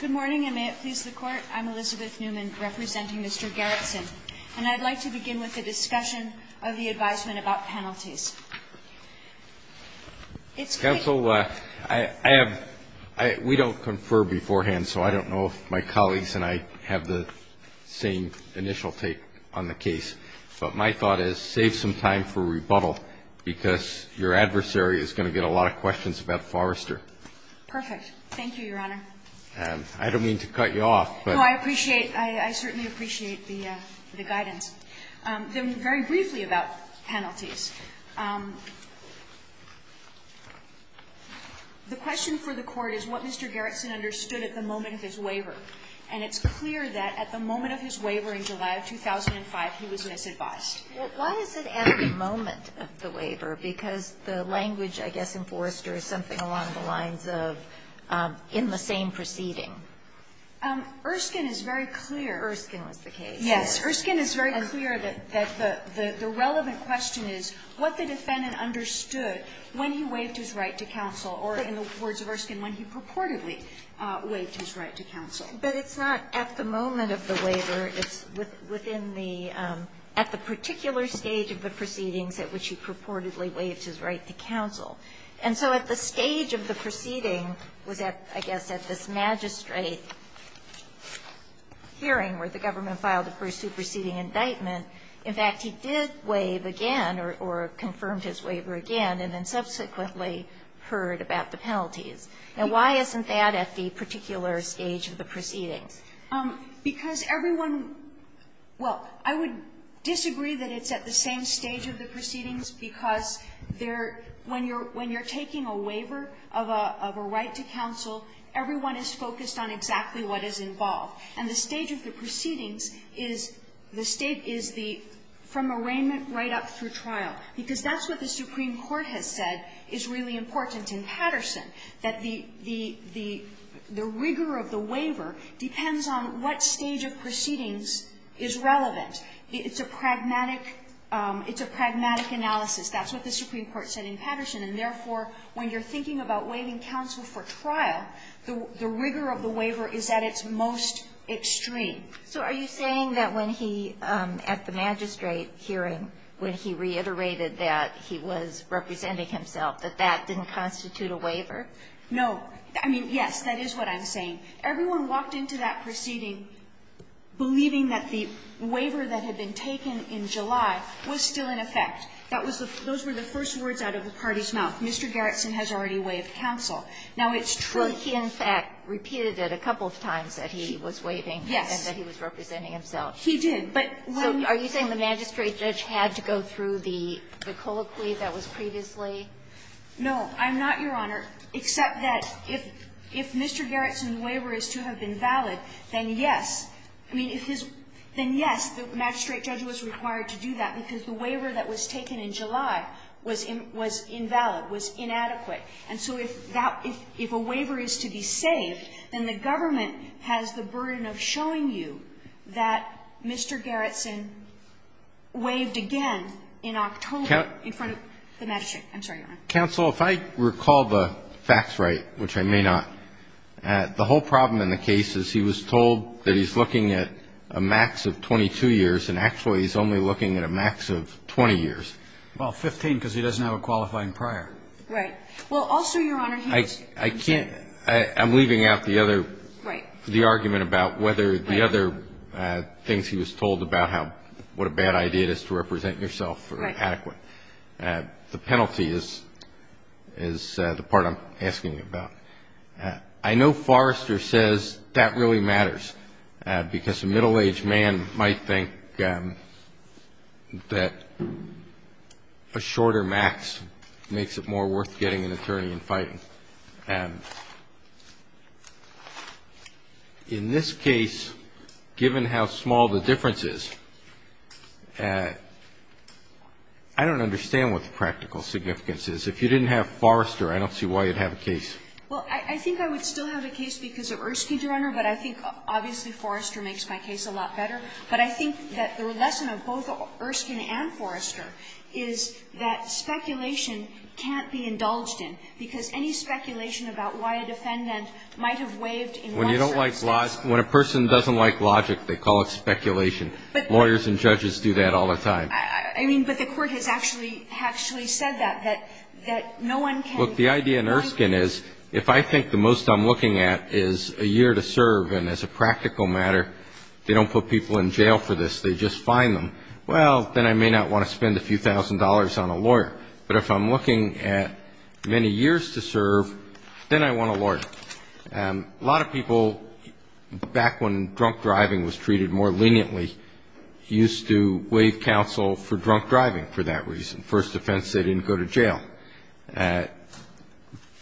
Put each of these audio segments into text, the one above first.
Good morning, and may it please the Court, I'm Elizabeth Newman, representing Mr. Gerritsen, and I'd like to begin with a discussion of the advisement about penalties. Counsel, we don't confer beforehand, so I don't know if my colleagues and I have the same initial take on the case. But my thought is save some time for rebuttal, because your adversary is going to get a lot of questions about Forrester. Perfect. Thank you, Your Honor. I don't mean to cut you off, but No, I appreciate. I certainly appreciate the guidance. Then very briefly about penalties. The question for the Court is what Mr. Gerritsen understood at the moment of his waiver. And it's clear that at the moment of his waiver in July of 2005, he was misadvised. Why is it at the moment of the waiver? Because the language, I guess, in Forrester is something along the lines of, in the same proceeding. Erskine is very clear. Erskine was the case. Yes. Erskine is very clear that the relevant question is what the defendant understood when he waived his right to counsel, or in the words of Erskine, when he purportedly waived his right to counsel. But it's not at the moment of the waiver. It's within the at the particular stage of the proceedings at which he purportedly waived his right to counsel. And so at the stage of the proceeding was at, I guess, at this magistrate hearing where the government filed the first superseding indictment. In fact, he did waive again, or confirmed his waiver again, and then subsequently heard about the penalties. Now, why isn't that at the particular stage of the proceedings? Because everyone – well, I would disagree that it's at the same stage of the proceedings, because there – when you're taking a waiver of a right to counsel, everyone is focused on exactly what is involved. And the stage of the proceedings is the state is the – from arraignment right up through trial. Because that's what the Supreme Court has said is really important in Patterson, that the – the rigor of the waiver depends on what stage of proceedings is relevant. It's a pragmatic – it's a pragmatic analysis. That's what the Supreme Court said in Patterson. And therefore, when you're thinking about waiving counsel for trial, the rigor of the waiver is at its most extreme. So are you saying that when he – at the magistrate hearing, when he reiterated that he was representing himself, that that didn't constitute a waiver? No. I mean, yes, that is what I'm saying. Everyone walked into that proceeding believing that the waiver that had been taken in July was still in effect. That was the – those were the first words out of the party's mouth. Mr. Garrison has already waived counsel. Now, it's true that he in fact repeated it a couple of times that he was waiving and that he was representing himself. He did. But when – So are you saying the magistrate judge had to go through the colloquy that was previously – No. I'm not, Your Honor, except that if Mr. Garrison's waiver is to have been valid, then yes. I mean, if his – then yes, the magistrate judge was required to do that because the waiver that was taken in July was invalid, was inadequate. And so if that – if a waiver is to be saved, then the government has the burden of showing you that Mr. Garrison waived again in October in front of the magistrate. I'm sorry, Your Honor. Counsel, if I recall the facts right, which I may not, the whole problem in the case is he was told that he's looking at a max of 22 years, and actually he's only looking at a max of 20 years. Well, 15, because he doesn't have a qualifying prior. Right. Well, also, Your Honor, he was – I can't – I'm leaving out the other – Right. The argument about whether the other things he was told about how – what a bad idea it is to represent yourself or adequate. The penalty is the part I'm asking about. I know Forrester says that really matters, because a middle-aged man might think that a shorter max makes it more worth getting an attorney and fighting. In this case, given how small the difference is, I don't understand what the practical significance is. If you didn't have Forrester, I don't see why you'd have a case. Well, I think I would still have a case because of Erskine, Your Honor, but I think obviously Forrester makes my case a lot better. But I think that the lesson of both Erskine and Forrester is that speculation can't be indulged in, because any speculation about why a defendant might have waived in one circumstance – When you don't like – when a person doesn't like logic, they call it speculation. Lawyers and judges do that all the time. I mean, but the Court has actually said that, that no one can – Look, the idea in Erskine is, if I think the most I'm looking at is a year to serve, and as a practical matter, they don't put people in jail for this, they just fine them, well, then I may not want to spend a few thousand dollars on a lawyer. But if I'm looking at many years to serve, then I want a lawyer. A lot of people, back when drunk driving was treated more leniently, used to waive counsel for drunk driving for that reason. First offense, they didn't go to jail.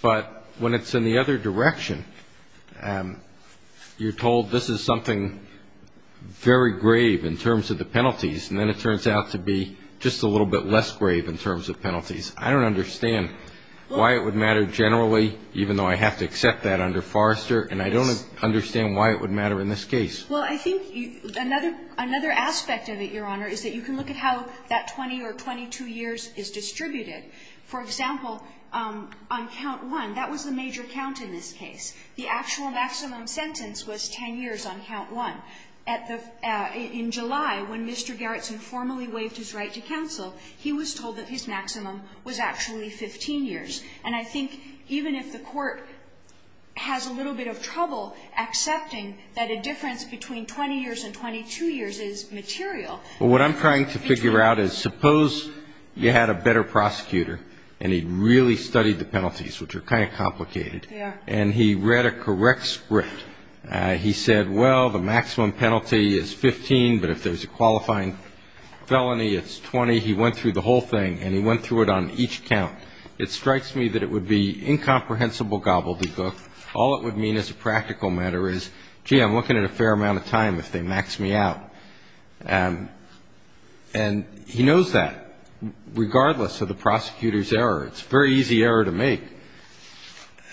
But when it's in the other direction, you're told this is something very grave in terms of the penalties, and then it turns out to be just a little bit less grave in terms of penalties. I don't understand why it would matter generally, even though I have to accept that under Forrester, and I don't understand why it would matter in this case. Well, I think another aspect of it, Your Honor, is that you can look at how that 20 or 22 years is distributed. For example, on count one, that was the major count in this case. The actual maximum sentence was 10 years on count one. At the — in July, when Mr. Gerritsen formally waived his right to counsel, he was told that his maximum was actually 15 years. And I think even if the Court has a little bit of trouble accepting that a difference you had a better prosecutor, and he really studied the penalties, which are kind of complicated, and he read a correct script, he said, well, the maximum penalty is 15, but if there's a qualifying felony, it's 20. He went through the whole thing, and he went through it on each count. It strikes me that it would be incomprehensible gobbledygook. All it would mean as a practical matter is, gee, I'm looking at a fair amount of time if they max me out. And he knows that, regardless of the prosecutor's error. It's a very easy error to make.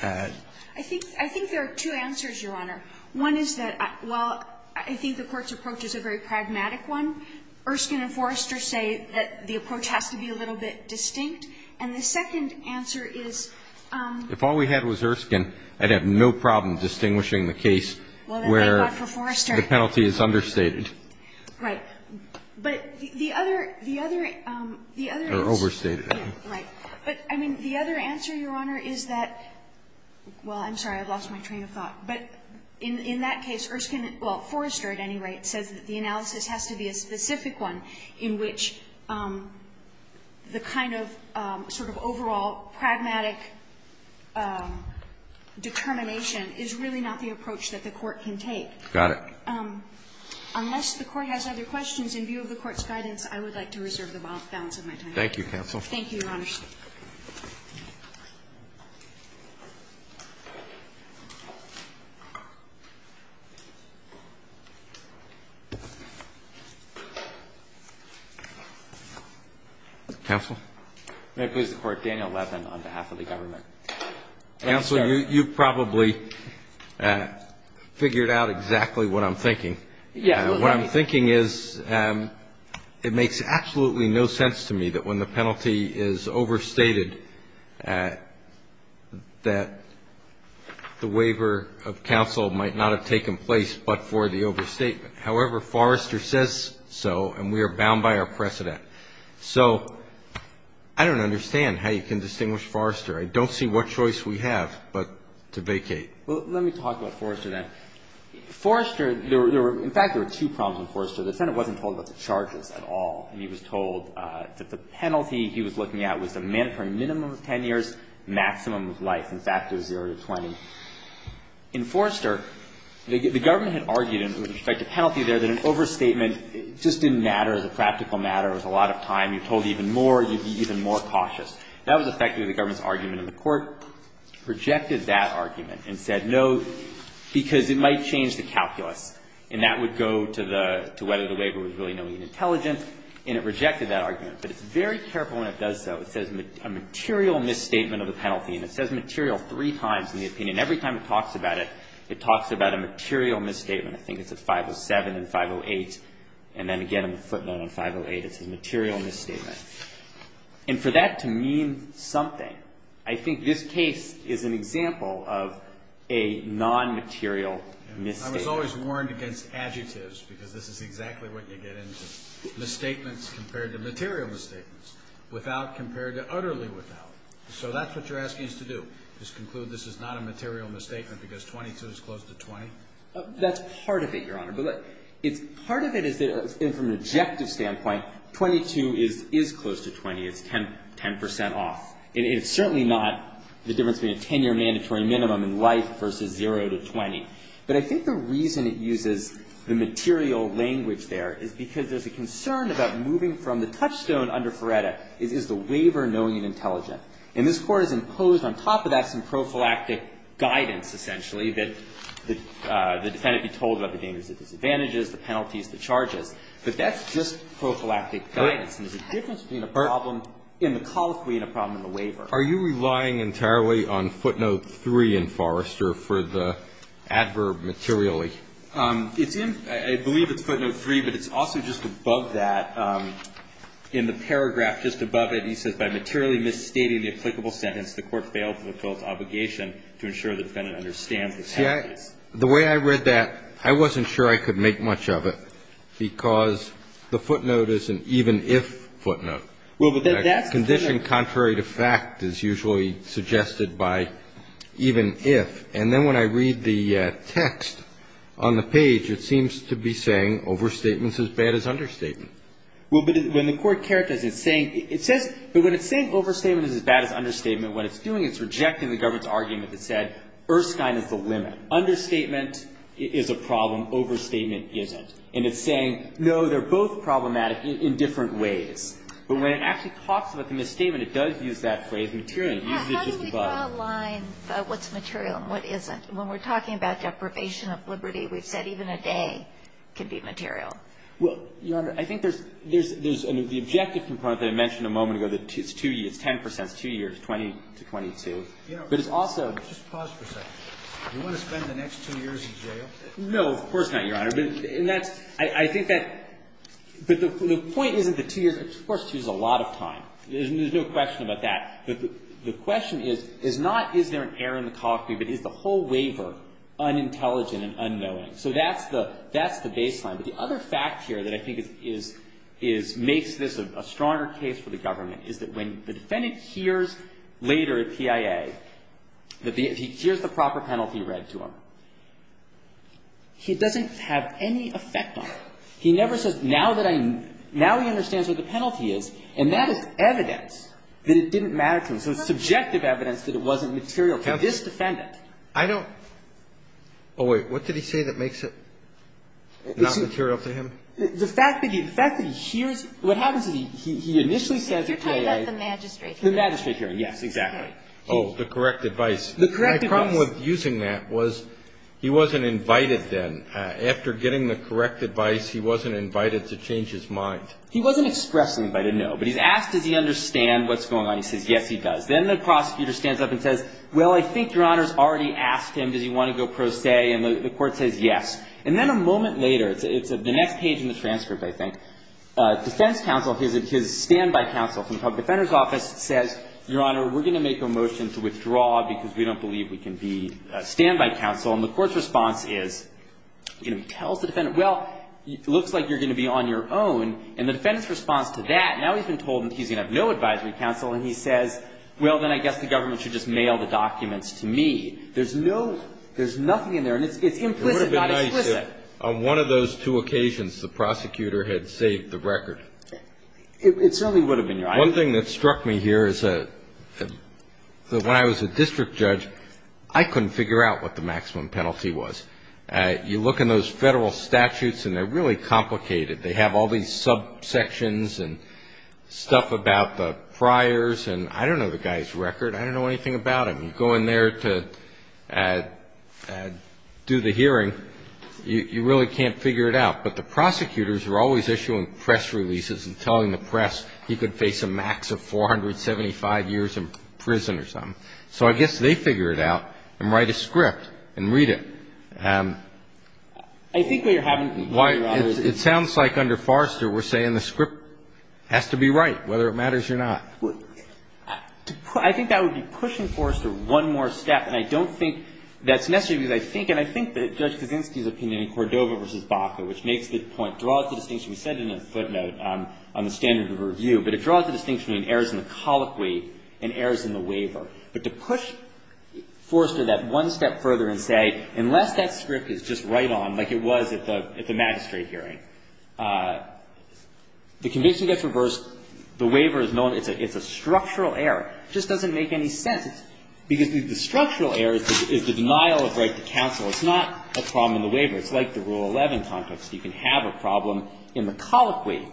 I think there are two answers, Your Honor. One is that while I think the Court's approach is a very pragmatic one, Erskine and Forrester say that the approach has to be a little bit distinct. And the second answer is — If all we had was Erskine, I'd have no problem distinguishing the case where the penalty is understated. Right. But the other — the other — the other is — Or overstated. Right. But, I mean, the other answer, Your Honor, is that — well, I'm sorry, I've lost my train of thought. But in that case, Erskine — well, Forrester, at any rate, says that the analysis has to be a specific one in which the kind of sort of overall pragmatic determination is really not the approach that the Court can take. Got it. Unless the Court has other questions in view of the Court's guidance, I would like to reserve the balance of my time. Thank you, counsel. Thank you, Your Honor. Counsel? May it please the Court, Daniel Levin on behalf of the government. Counsel, you've probably figured out exactly what I'm thinking. Yes. What I'm thinking is it makes absolutely no sense to me that when the penalty is overstated that the waiver of counsel might not have taken place but for the overstatement. However, Forrester says so, and we are bound by our precedent. So I don't understand how you can distinguish Forrester. I don't see what choice we have but to vacate. Well, let me talk about Forrester, then. Forrester, there were — in fact, there were two problems with Forrester. The Senate wasn't told about the charges at all, and he was told that the penalty he was looking at was the minimum of 10 years, maximum of life. In fact, it was 0 to 20. In Forrester, the government had argued, with respect to penalty there, that an overstatement just didn't matter as a practical matter. It was a lot of time. You're told even more, you'd be even more cautious. That was effectively the government's argument, and the court rejected that argument and said, no, because it might change the calculus, and that would go to the — to whether the waiver was really knowing and intelligent, and it rejected that argument. But it's very careful when it does so. It says a material misstatement of the penalty, and it says material three times in the opinion. Every time it talks about it, it talks about a material misstatement. I think it's at 507 and 508, and then again in the footnote on 508, it says material misstatement. And for that to mean something, I think this case is an example of a non-material misstatement. I was always warned against adjectives, because this is exactly what you get into. Misstatements compared to material misstatements. Without compared to utterly without. So that's what you're asking us to do, is conclude this is not a material misstatement because 22 is close to 20? That's part of it, Your Honor, but it's — part of it is that, from an objective standpoint, 22 is close to 20. It's 10 percent off. And it's certainly not the difference between a 10-year mandatory minimum in life versus zero to 20. But I think the reason it uses the material language there is because there's a concern about moving from the touchstone under Ferretta is, is the waiver knowing and intelligent? And this Court has imposed on top of that some prophylactic guidance, essentially, that the defendant be told about the dangers, the disadvantages, the penalties, the prophylactic guidance. And there's a difference between a problem in the colloquy and a problem in the waiver. Are you relying entirely on footnote 3 in Forrester for the adverb materially? It's in — I believe it's footnote 3, but it's also just above that. In the paragraph just above it, he says, By materially misstating the applicable sentence, the Court failed to fulfill its obligation to ensure the defendant understands the sentence. The way I read that, I wasn't sure I could make much of it because the footnote is an even-if footnote. Well, but that's the thing. Condition contrary to fact is usually suggested by even-if. And then when I read the text on the page, it seems to be saying overstatement is as bad as understatement. Well, but when the Court characterizes it, it's saying — it says — but when it's saying overstatement is as bad as understatement, what it's doing is it's rejecting the government's argument that said Erskine is the limit. Understatement is a problem. Overstatement isn't. And it's saying, no, they're both problematic in different ways. But when it actually talks about the misstatement, it does use that phrase, materially. It uses it just above. How do we draw a line about what's material and what isn't? When we're talking about deprivation of liberty, we've said even a day can be material. Well, Your Honor, I think there's — there's — the objective component that I mentioned a moment ago, that it's two years, 10 percent is two years, 20 to 22. But it's also — Just pause for a second. Do you want to spend the next two years in jail? No. Of course not, Your Honor. And that's — I think that — but the point isn't the two years. Of course, two is a lot of time. There's no question about that. But the question is, is not is there an error in the copy, but is the whole waiver unintelligent and unknowing? So that's the — that's the baseline. But the other fact here that I think is — is — makes this a stronger case for the government is that when the defendant hears later at PIA that the — he hears the proper penalty read to him, he doesn't have any effect on it. He never says, now that I — now he understands what the penalty is. And that is evidence that it didn't matter to him. So it's subjective evidence that it wasn't material to this defendant. I don't — oh, wait. What did he say that makes it not material to him? The fact that he — the fact that he hears — what happens is he — he initially says at PIA — You're talking about the magistrate hearing. The magistrate hearing. Yes, exactly. Oh, the correct advice. The correct advice. My problem with using that was he wasn't invited then. After getting the correct advice, he wasn't invited to change his mind. He wasn't expressedly invited, no. But he's asked, does he understand what's going on? He says, yes, he does. Then the prosecutor stands up and says, well, I think Your Honor's already asked him, does he want to go pro se? And the court says, yes. And then a moment later — it's the next page in the transcript, I think — defense counsel, his — his standby counsel from the public defender's office says, Your Honor, we're going to make a motion to withdraw because we don't believe we can be a standby counsel. And the court's response is — you know, tells the defendant, well, it looks like you're going to be on your own. And the defendant's response to that — now he's been told that he's going to have no advisory counsel. And he says, well, then I guess the government should just mail the documents to me. There's no — there's nothing in there. And it's implicit, not explicit. On one of those two occasions, the prosecutor had saved the record. It certainly would have been, Your Honor. One thing that struck me here is that when I was a district judge, I couldn't figure out what the maximum penalty was. You look in those Federal statutes, and they're really complicated. They have all these subsections and stuff about the friars. And I don't know the guy's record. I don't know anything about him. And going there to do the hearing, you really can't figure it out. But the prosecutors are always issuing press releases and telling the press he could face a max of 475 years in prison or something. So I guess they figure it out and write a script and read it. I think what you're having — It sounds like under Forrester we're saying the script has to be right, whether it matters or not. I think that would be pushing Forrester one more step. And I don't think that's necessary, because I think — and I think that Judge Kaczynski's opinion in Cordova v. Baca, which makes the point, draws the distinction. We said it in a footnote on the standard of review. But it draws the distinction between errors in the colloquy and errors in the waiver. But to push Forrester that one step further and say, unless that script is just right on, like it was at the — at the magistrate hearing, the conviction gets reversed, the waiver is known, it's a structural error, just doesn't make any sense. Because the structural error is the denial of right to counsel. It's not a problem in the waiver. It's like the Rule 11 context. You can have a problem in the colloquy.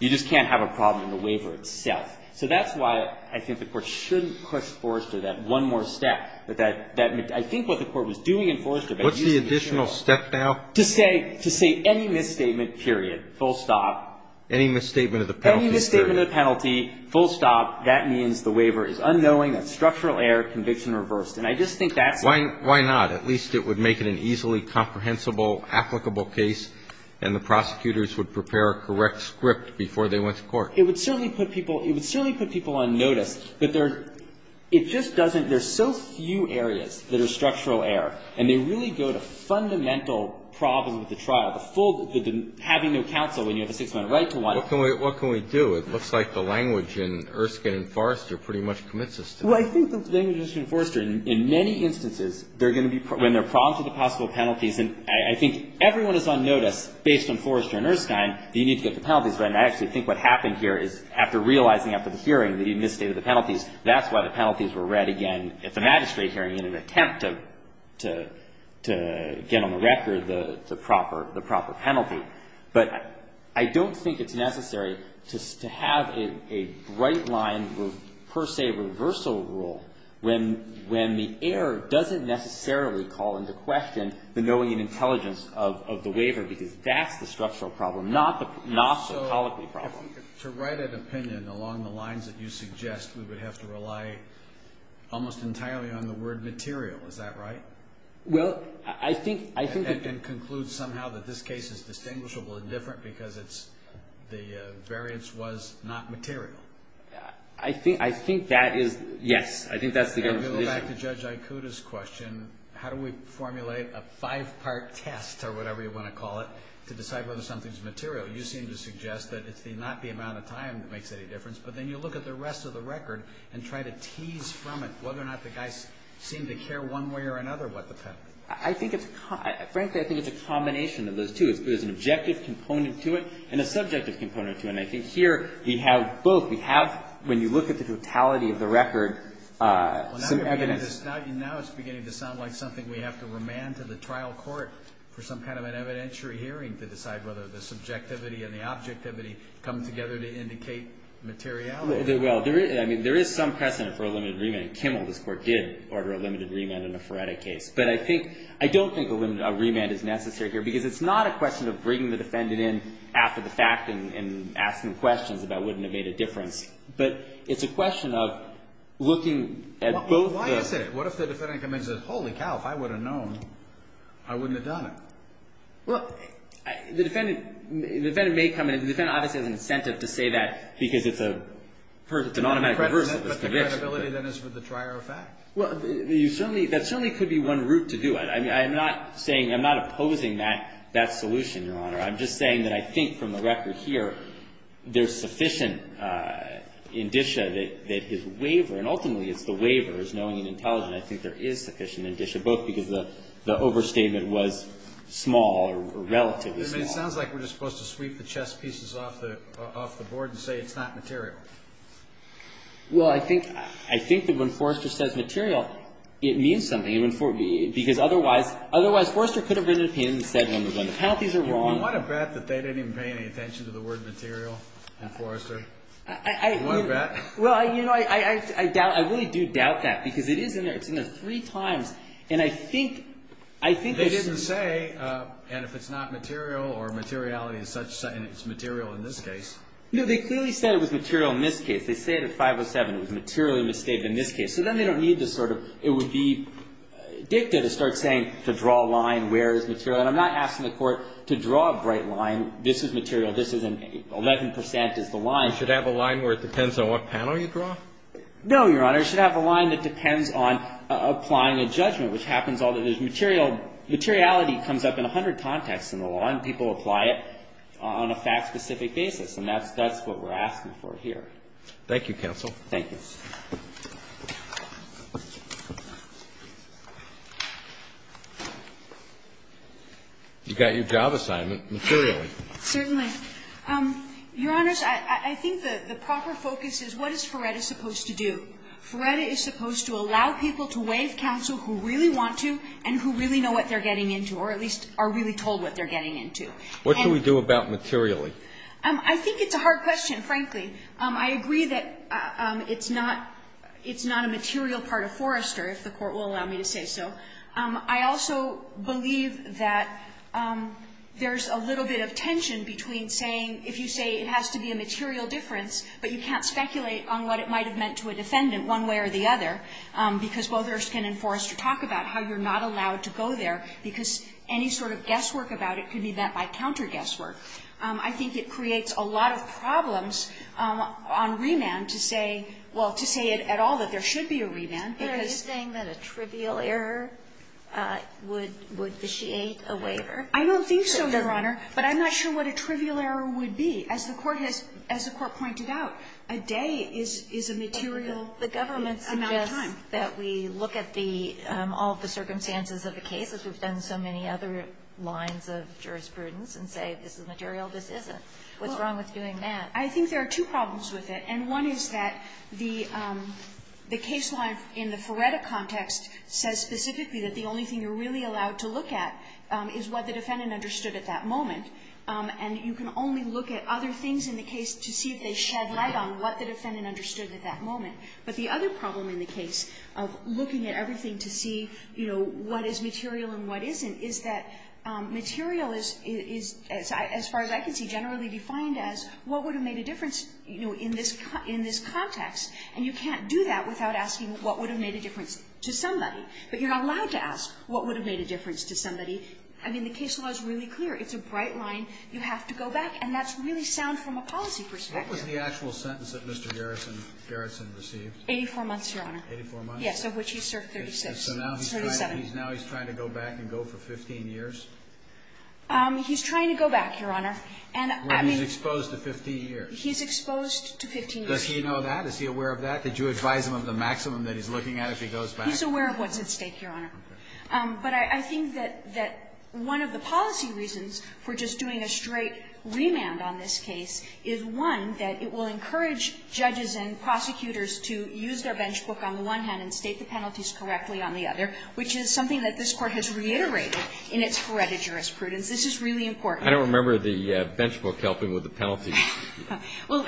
You just can't have a problem in the waiver itself. So that's why I think the Court shouldn't push Forrester that one more step. But that — I think what the Court was doing in Forrester — What's the additional step now? To say — to say any misstatement, period, full stop. Any misstatement of the penalty? Any misstatement of the penalty, full stop, that means the waiver is unknowing, that structural error, conviction reversed. And I just think that's — Why — why not? At least it would make it an easily comprehensible, applicable case, and the prosecutors would prepare a correct script before they went to court. It would certainly put people — it would certainly put people on notice. But there — it just doesn't — there's so few areas that are structural error, and they really go to fundamental problems with the trial, the full — the having no counsel when you have a six-minute right to one. What can we — what can we do? It looks like the language in Erskine and Forrester pretty much commits us to that. Well, I think the language in Erskine and Forrester, in many instances, they're going to be — when they're prompted with possible penalties, and I think everyone is on notice, based on Forrester and Erskine, that you need to get the penalties. But I actually think what happened here is, after realizing after the hearing that you misstated the penalties, that's why the penalties were read again at the magistrate hearing in an attempt to — to get on the record the proper — the proper penalty. But I don't think it's necessary to have a — a bright-line, per se, reversal rule when — when the error doesn't necessarily call into question the knowing and intelligence of the waiver, because that's the structural problem, not the — not the political problem. So to write an opinion along the lines that you suggest, we would have to rely almost entirely on the word material. Is that right? Well, I think — I think — I think it's distinguishable and different because it's — the variance was not material. I think — I think that is — yes. I think that's the — If you go back to Judge Ikuda's question, how do we formulate a five-part test, or whatever you want to call it, to decide whether something's material? You seem to suggest that it's not the amount of time that makes any difference, but then you look at the rest of the record and try to tease from it whether or not the guys seem to care one way or another what the penalty is. I think it's — frankly, I think it's a combination of those two. There's an objective component to it and a subjective component to it. And I think here we have both. We have — when you look at the totality of the record, some evidence — Well, now it's beginning to sound like something we have to remand to the trial court for some kind of an evidentiary hearing to decide whether the subjectivity and the objectivity come together to indicate materiality. Well, there is — I mean, there is some precedent for a limited remand. Kimmel, this Court, did order a limited remand in the Ferretti case. But I think — I don't think a limited — a remand is necessary here because it's not a question of bringing the defendant in after the fact and asking questions about wouldn't it have made a difference. But it's a question of looking at both the — Well, why is it? What if the defendant comes in and says, holy cow, if I would have known, I wouldn't have done it? Well, the defendant — the defendant may come in — the defendant obviously has an incentive to say that because it's a — it's an automatic reverse of this conviction. But the credibility, then, is for the trier of fact. Well, you certainly — that certainly could be one route to do it. I mean, I'm not saying — I'm not opposing that — that solution, Your Honor. I'm just saying that I think from the record here, there's sufficient indicia that his waiver — and ultimately, it's the waiver, is knowing and intelligent. I think there is sufficient indicia, both because the — the overstatement was small or relatively small. It sounds like we're just supposed to sweep the chess pieces off the — off the board and say it's not material. Well, I think — I think that when Forrester says material, it means something, because otherwise — otherwise Forrester could have written an opinion and said when the penalties are wrong. You want to bet that they didn't even pay any attention to the word material in Forrester? I — You want to bet? Well, you know, I doubt — I really do doubt that because it is in there. It's in there three times. And I think — I think it's — They didn't say, and if it's not material or materiality is such — and it's material in this case. No, they clearly said it was material in this case. They say it at 507. It was materially misstated in this case. So then they don't need to sort of — it would be dicta to start saying to draw a line where is material. And I'm not asking the Court to draw a bright line. This is material. This is an — 11 percent is the line. You should have a line where it depends on what panel you draw? No, Your Honor. You should have a line that depends on applying a judgment, which happens all the — there's material — materiality comes up in 100 contexts in the law, and people apply it on a fact-specific basis. And that's what we're asking for here. Thank you, counsel. Thank you. You got your job assignment materially. Certainly. Your Honors, I think the proper focus is what is Feretta supposed to do? Feretta is supposed to allow people to waive counsel who really want to and who really know what they're getting into, or at least are really told what they're getting into. What should we do about materially? I think it's a hard question, frankly. I agree that it's not — it's not a material part of Forrester, if the Court will allow me to say so. I also believe that there's a little bit of tension between saying — if you say it has to be a material difference, but you can't speculate on what it might have meant to a defendant one way or the other, because both Erskine and Forrester talk about how you're not allowed to go there, because any sort of guesswork about it could be meant by counter-guesswork. I think it creates a lot of problems on remand to say — well, to say at all that there should be a remand, because — Are you saying that a trivial error would vitiate a waiver? I don't think so, Your Honor. But I'm not sure what a trivial error would be. As the Court has — as the Court pointed out, a day is a material amount of time. That we look at the — all of the circumstances of the case, as we've done in so many other lines of jurisprudence, and say, this is material, this isn't. What's wrong with doing that? I think there are two problems with it. And one is that the — the case law in the Feretta context says specifically that the only thing you're really allowed to look at is what the defendant understood at that moment. And you can only look at other things in the case to see if they shed light on what the defendant understood at that moment. But the other problem in the case of looking at everything to see, you know, what is material and what isn't, is that material is — is, as far as I can see, generally defined as what would have made a difference, you know, in this — in this context. And you can't do that without asking what would have made a difference to somebody. But you're not allowed to ask what would have made a difference to somebody. I mean, the case law is really clear. It's a bright line. You have to go back. And that's really sound from a policy perspective. Kennedy, what was the actual sentence that Mr. Garrison — Garrison received? 84 months, Your Honor. 84 months? Yes, of which he served 36. So now he's trying to go back and go for 15 years? He's trying to go back, Your Honor. And I mean — Where he's exposed to 15 years. He's exposed to 15 years. Does he know that? Is he aware of that? Did you advise him of the maximum that he's looking at if he goes back? He's aware of what's at stake, Your Honor. But I think that — that one of the policy reasons for just doing a straight remand on this case is, one, that it will encourage judges and prosecutors to use their bench book on the one hand and state the penalties correctly on the other, which is something that this Court has reiterated in its credit jurisprudence. This is really important. I don't remember the bench book helping with the penalties. Well,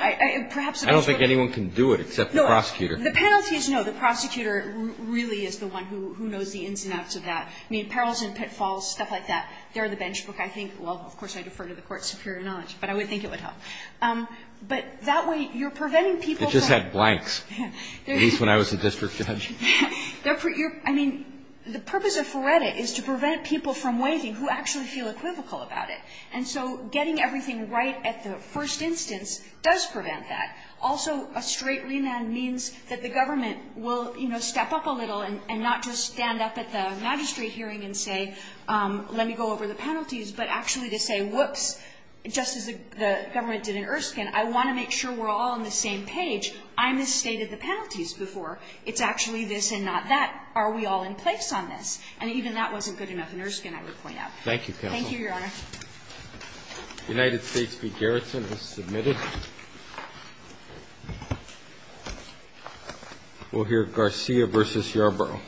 perhaps the bench book — I don't think anyone can do it except the prosecutor. No. The penalties, no. The prosecutor really is the one who knows the ins and outs of that. I mean, perils and pitfalls, stuff like that, they're the bench book. I think — well, of course, I defer to the Court's superior knowledge, but I would think it would help. But that way, you're preventing people from — It just had blanks, at least when I was a district judge. I mean, the purpose of FRERETA is to prevent people from waiting who actually feel equivocal about it. And so getting everything right at the first instance does prevent that. Also, a straight remand means that the government will, you know, step up a little and not just stand up at the magistrate hearing and say, let me go over the penalties, but actually to say, whoops, just as the government did in Erskine, I want to make sure we're all on the same page. I misstated the penalties before. It's actually this and not that. Are we all in place on this? And even that wasn't good enough in Erskine, I would point out. Thank you, counsel. Thank you, Your Honor. United States v. Garrison is submitted. We'll hear Garcia v. Yarbrough.